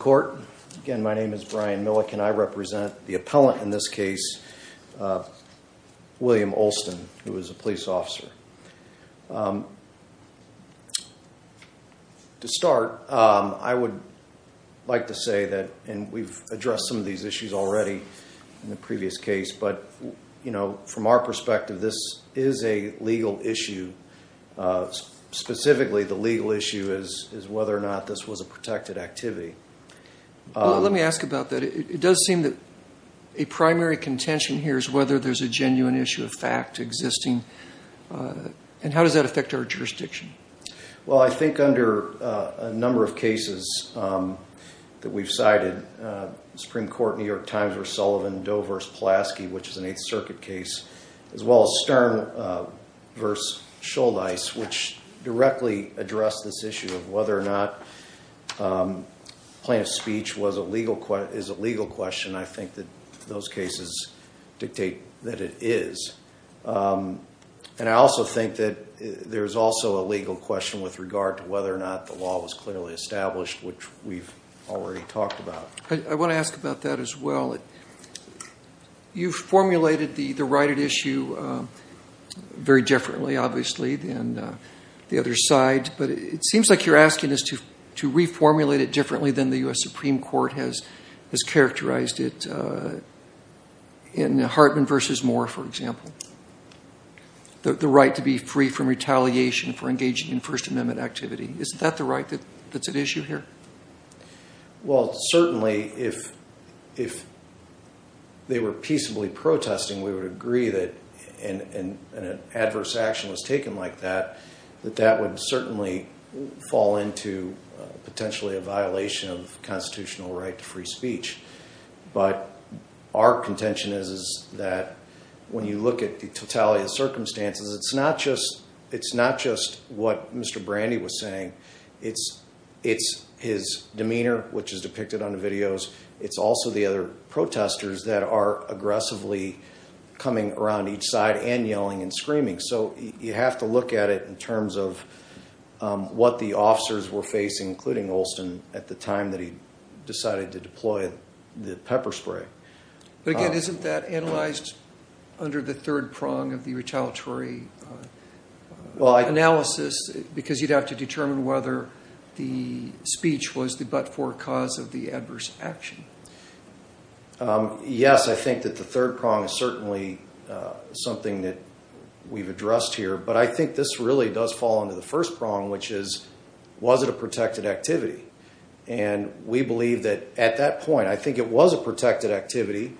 Court. Again, my name is Brian Milliken. I represent the appellant in this case, William Olson, who is a police officer. To start, I would like to say that, and we've addressed some of these issues already in the previous case, but from our perspective, this is a legal issue, is whether or not this was a protected activity. Well, let me ask about that. It does seem that a primary contention here is whether there's a genuine issue of fact existing, and how does that affect our jurisdiction? Well, I think under a number of cases that we've cited, Supreme Court, New York Times v. Sullivan, Doe v. Pulaski, which is an Eighth Circuit case, as well as Stern v. Schulnice, which directly addressed this issue of whether or not plaintiff's speech is a legal question, I think that those cases dictate that it is. And I also think that there's also a legal question with regard to whether or not the law was clearly established, which we've already talked about. I want to ask about that as well. You've formulated the righted issue very differently, obviously, than the other side, but it seems like you're asking us to reformulate it differently than the U.S. Supreme Court has characterized it in Hartman v. Moore, for example, the right to be free from retaliation for engaging in First Amendment activity. Is that the right that's at issue here? Well, certainly, if they were peaceably protesting, we would agree that an adverse action was taken. That would certainly fall into potentially a violation of constitutional right to free speech. But our contention is that when you look at the totality of circumstances, it's not just what Mr. Brandy was saying. It's his demeanor, which is depicted on the videos. It's also the other protesters that are aggressively coming around each side and yelling and screaming. So you have to look at it in terms of what the officers were facing, including Olson, at the time that he decided to deploy the pepper spray. But again, isn't that analyzed under the third prong of the retaliatory analysis? Because you'd have to determine whether the speech was the but-for cause of the adverse action. Yes, I think that the third prong is certainly something that we've addressed here. But I think this really does fall into the first prong, which is, was it a protected activity? And we believe that at that point, I think it was a protected activity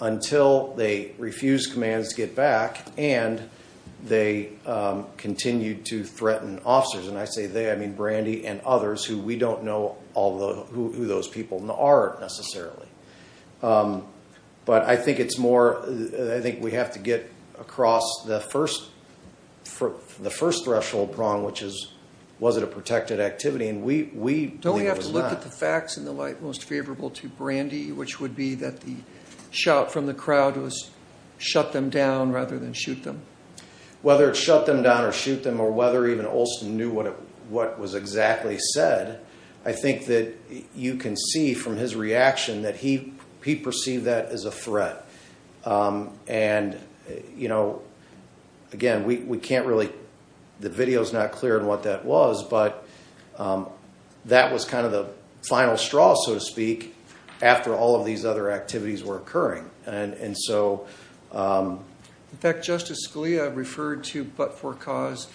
until they refused commands to get back and they continued to threaten officers. And I say they, I mean those people aren't necessarily. But I think it's more, I think we have to get across the first threshold prong, which is, was it a protected activity? And we believe it was not. Don't we have to look at the facts in the light most favorable to Brandy, which would be that the shout from the crowd was, shut them down rather than shoot them? Whether it's shut them down or shoot them, or whether even Olson knew what was exactly said, I think that you can see from his reaction that he perceived that as a threat. And, you know, again, we can't really, the video's not clear on what that was, but that was kind of the final straw, so to speak, after all of these other activities were occurring. In fact, Justice Scalia referred to but-for-cause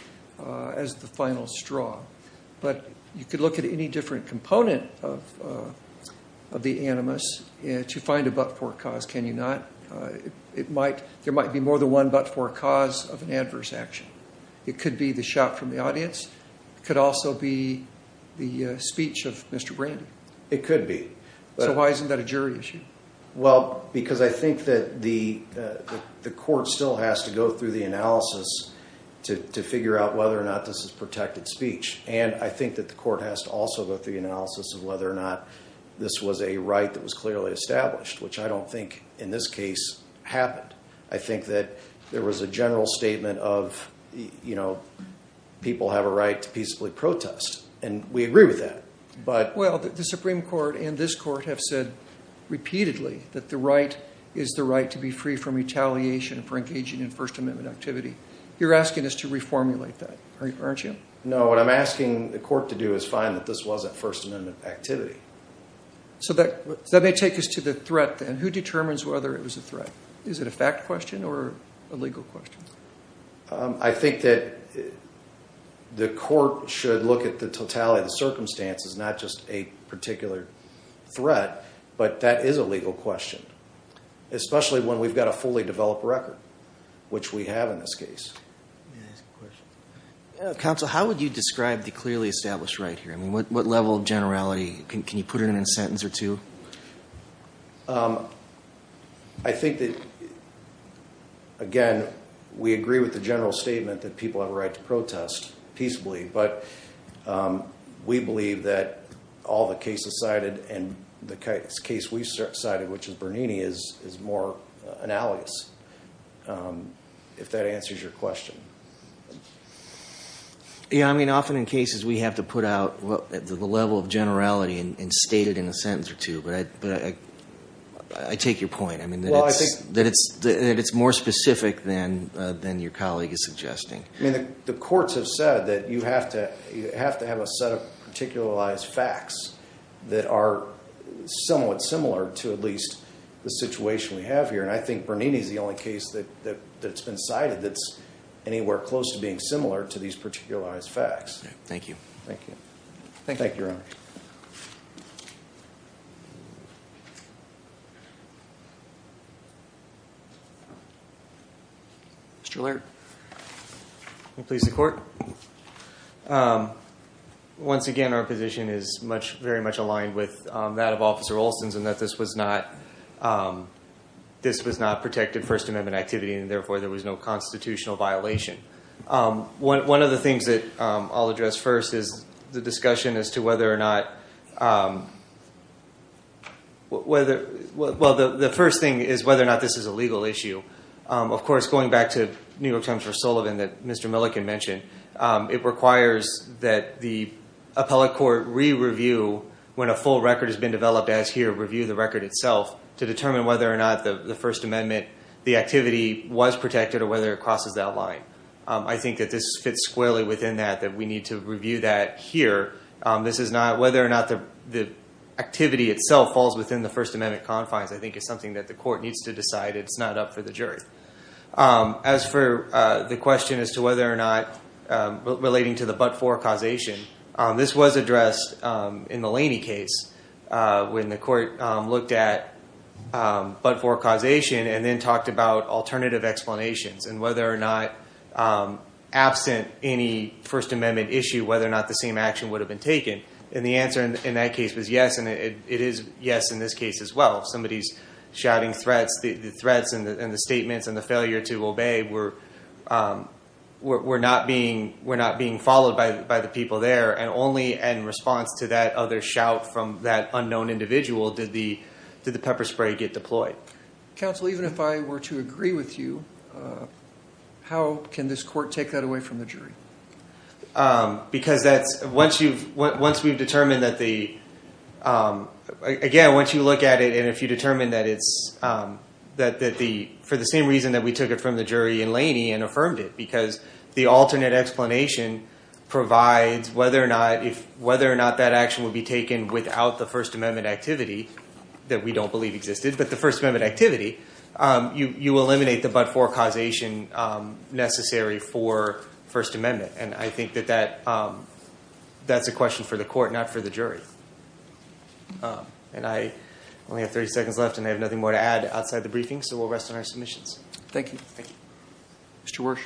as the final straw. But you could look at any different component of the animus to find a but-for-cause, can you not? It might, there might be more than one but-for-cause of an adverse action. It could be the shout from the audience. It could also be the speech of Mr. Brandy. It could be. So why isn't that a jury issue? Well, because I think that the court still has to go through the analysis to figure out whether or not this is protected speech. And I think that the court has to also go through the analysis of whether or not this was a right that was clearly established, which I don't think in this case happened. I think that there was a general statement of, you know, people have a right to peacefully protest, and we agree with that. Well, the Supreme Court and this court have said repeatedly that the right is the right to be free from retaliation for engaging in First Amendment activity. You're asking us to reformulate that, aren't you? No, what I'm asking the court to do is find that this wasn't First Amendment activity. So that may take us to the threat then. Who determines whether it was a threat? Is it a fact question or a legal question? I think that the court should look at the totality of the circumstances, not just a particular threat, but that is a legal question, especially when we've got a fully developed record, which we have in this case. Counsel, how would you describe the clearly established right here? I mean, what level of generality? Can you put it in a sentence or two? I think that, again, we agree with the general statement that people have a right to protest peaceably, but we believe that all the cases cited and the case we cited, which is Bernini, is more analogous, if that answers your question. Yeah, I mean, often in cases we have to put out the level of generality and state it in a sentence or two, but I take your point. I mean, that it's more specific than your colleague is suggesting. I mean, the courts have said that you have to have a set of particularized facts that are somewhat similar to at least the situation we have here, and I think Bernini is the only case that's been cited that's anywhere close to being similar to these particularized facts. Thank you. Thank you, Your Honor. Thank you. Mr. Laird. Please support. Once again, our position is very much aligned with that of Officer Olson's in that this was not protected First Amendment activity, and therefore there was no constitutional violation. One of the things that I'll address first is the discussion as to whether or not Well, the first thing is whether or not this is a legal issue. Of course, going back to New York Times for Sullivan that Mr. Milliken mentioned, it requires that the appellate court re-review, when a full record has been developed as here, review the record itself to determine whether or not the First Amendment activity was protected or whether it crosses that line. I think that this fits squarely within that, that we need to review that here. This is not whether or not the activity itself falls within the First Amendment confines. I think it's something that the court needs to decide. It's not up for the jury. As for the question as to whether or not, relating to the but-for causation, this was addressed in the Laney case when the court looked at but-for causation and then talked about alternative explanations and whether or not, absent any First Amendment issue, whether or not the same action would have been taken. The answer in that case was yes, and it is yes in this case as well. If somebody's shouting threats, the threats and the statements and the failure to obey were not being followed by the people there, and only in response to that other shout from that unknown individual did the pepper spray get deployed. Counsel, even if I were to agree with you, how can this court take that away from the jury? Because that's, once we've determined that the, again, once you look at it and if you determine that it's, for the same reason that we took it from the jury in Laney and affirmed it, because the alternate explanation provides whether or not that action would be taken without the First Amendment activity, that we don't believe existed, but the First Amendment and I think that that's a question for the court, not for the jury. And I only have 30 seconds left and I have nothing more to add outside the briefing, so we'll rest on our submissions. Thank you. Thank you. Mr. Wersch.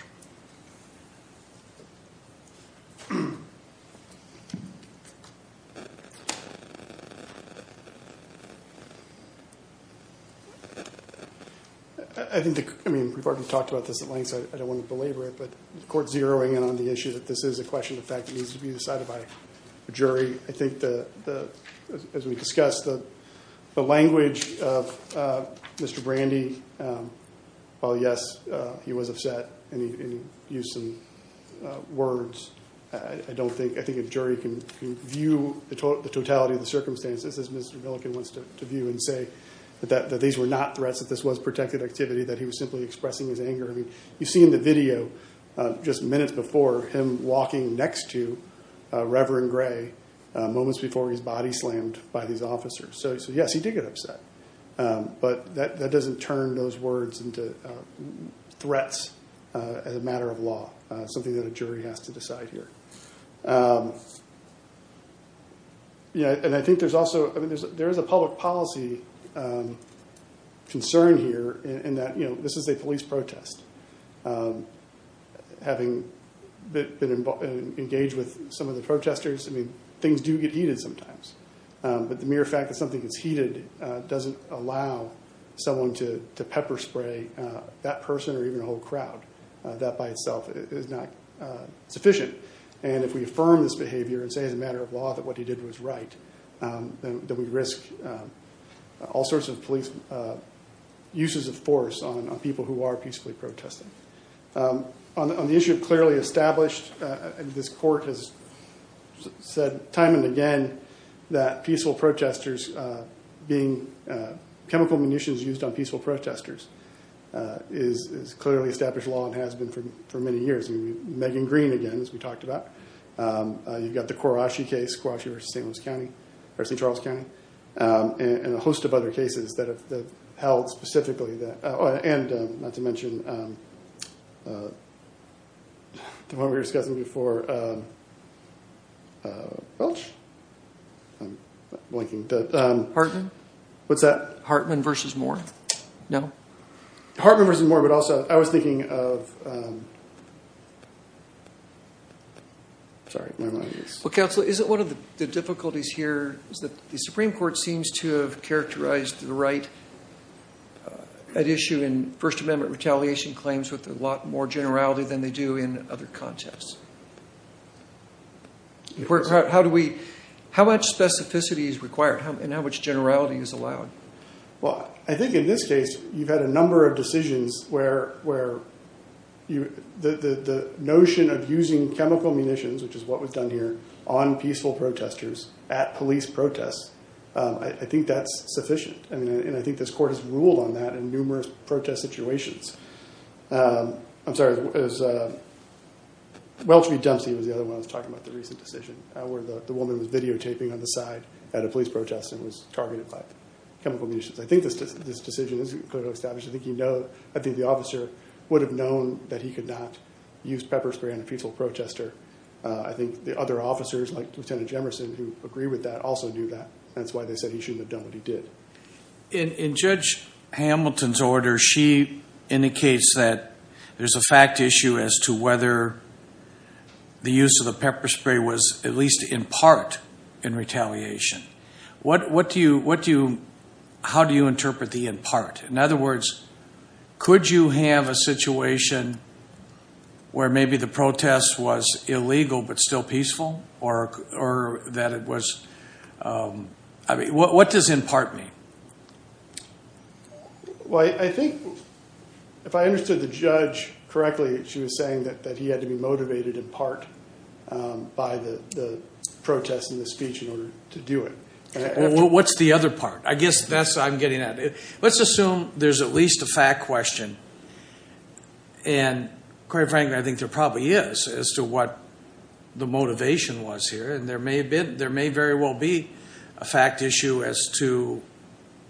I think, I mean, we've already talked about this at length, so I don't want to belabor it, but the court zeroing in on the issue that this is a question of fact that needs to be decided by a jury. I think the, as we discussed, the language of Mr. Brandy, while yes, he was upset and he used some words, I don't think, I think a jury can view the totality of the circumstances as Mr. Milliken wants to view and say that these were not threats, that this was protected activity, that he was simply expressing his anger. I mean, you see in the video just minutes before him walking next to Reverend Gray, moments before he's body slammed by these officers. So, yes, he did get upset, but that doesn't turn those words into threats as a matter of law, something that a jury has to decide here. Yeah, and I think there's also, I mean, there is a public policy concern here in that, you know, having been engaged with some of the protesters, I mean, things do get heated sometimes, but the mere fact that something gets heated doesn't allow someone to pepper spray that person or even a whole crowd. That by itself is not sufficient, and if we affirm this behavior and say as a matter of law that what he did was right, then we risk all sorts of police uses of force on people who are peacefully protesting. On the issue of clearly established, this court has said time and again that peaceful protesters being, chemical munitions used on peaceful protesters is clearly established law and has been for many years. I mean, Megan Green, again, as we talked about. You've got the Kurashi case, Kurashi versus St. Louis County, or St. Charles County, and a host of other cases that have held specifically that, and not to mention the one we were discussing before, Welch? I'm blanking. Hartman? What's that? Hartman versus Moore. No? Hartman versus Moore, but also I was thinking of, sorry, never mind. Well, counsel, isn't one of the difficulties here is that the Supreme Court seems to have characterized the right at issue in First Amendment retaliation claims with a lot more generality than they do in other contests. How much specificity is required and how much generality is allowed? Well, I think in this case, you've had a number of decisions where the notion of using chemical munitions, which is what was done here, on peaceful protesters at police protests, I think that's sufficient, and I think this court has ruled on that in numerous protest situations. I'm sorry, Welch v. Dempsey was the other one I was talking about, the recent decision, where the woman was videotaping on the side at a police protest and was targeted by chemical munitions. I think this decision is clearly established. I think the officer would have known that he could not use pepper spray on a peaceful protester. I think the other officers, like Lieutenant Jemerson, who agree with that, also knew that. That's why they said he shouldn't have done what he did. In Judge Hamilton's order, she indicates that there's a fact issue as to whether the use of the pepper spray was at least in part in retaliation. How do you interpret the in part? In other words, could you have a situation where maybe the protest was illegal but still peaceful? What does in part mean? I think if I understood the judge correctly, she was saying that he had to be motivated in part by the protest and the speech in order to do it. What's the other part? I guess that's what I'm getting at. Let's assume there's at least a fact question. Quite frankly, I think there probably is as to what the motivation was here. There may very well be a fact issue as to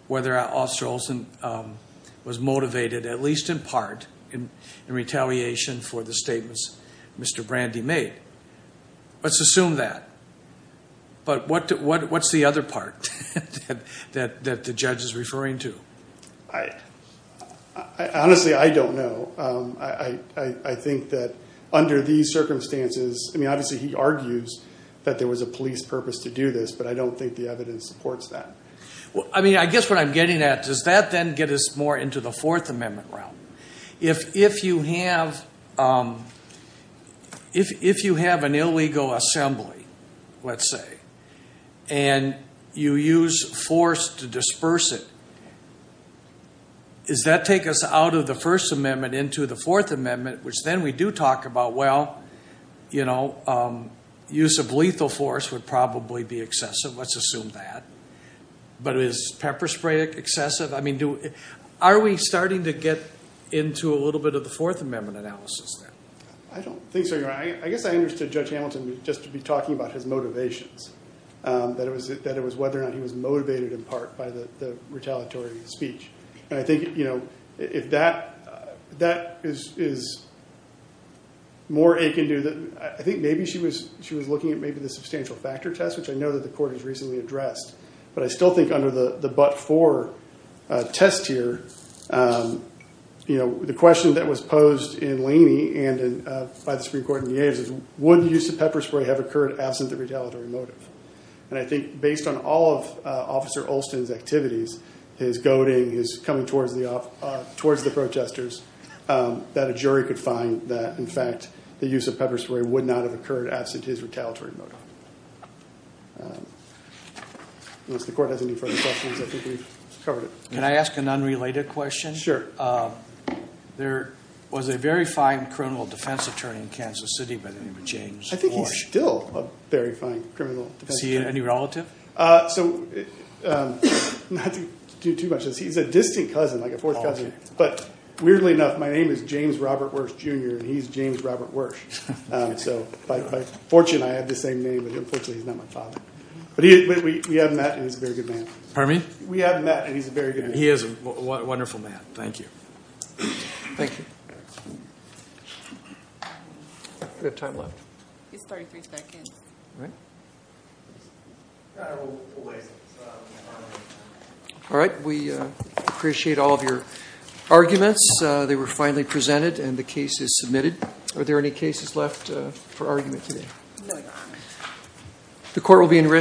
whether Officer Olson was motivated at least in part in retaliation for the statements Mr. Brandy made. Let's assume that. What's the other part that the judge is referring to? Honestly, I don't know. I think that under these circumstances, obviously he argues that there was a police purpose to do this, but I don't think the evidence supports that. I guess what I'm getting at, does that then get us more into the Fourth Amendment realm? If you have an illegal assembly, let's say, and you use force to disperse it, does that take us out of the First Amendment into the Fourth Amendment, which then we do talk about, well, use of lethal force would probably be excessive. Let's assume that. But is pepper spray excessive? Are we starting to get into a little bit of the Fourth Amendment analysis there? I don't think so, Your Honor. I guess I understood Judge Hamilton just to be talking about his motivations, that it was whether or not he was motivated in part by the retaliatory speech. I think if that is more akin to—I think maybe she was looking at maybe the substantial factor test, which I know that the court has recently addressed, but I still think under the but-for test here, the question that was posed in Laney and by the Supreme Court in the A's is, would the use of pepper spray have occurred absent the retaliatory motive? And I think based on all of Officer Olson's activities, his goading, his coming towards the protesters, that a jury could find that, in fact, the use of pepper spray would not have occurred absent his retaliatory motive. Unless the court has any further questions, I think we've covered it. Can I ask an unrelated question? Sure. There was a very fine criminal defense attorney in Kansas City by the name of James Warsh. I think he's still a very fine criminal defense attorney. Is he any relative? So not to do too much of this, he's a distant cousin, like a fourth cousin. But weirdly enough, my name is James Robert Warsh, Jr., and he's James Robert Warsh. So by fortune, I have the same name, but unfortunately, he's not my father. But we have met, and he's a very good man. Pardon me? We have met, and he's a very good man. He is a wonderful man. Thank you. Thank you. We have time left. You have 33 seconds. All right. All right. We appreciate all of your arguments. They were finally presented, and the case is submitted. Are there any cases left for argument today? No, Your Honor. The court will be in recess.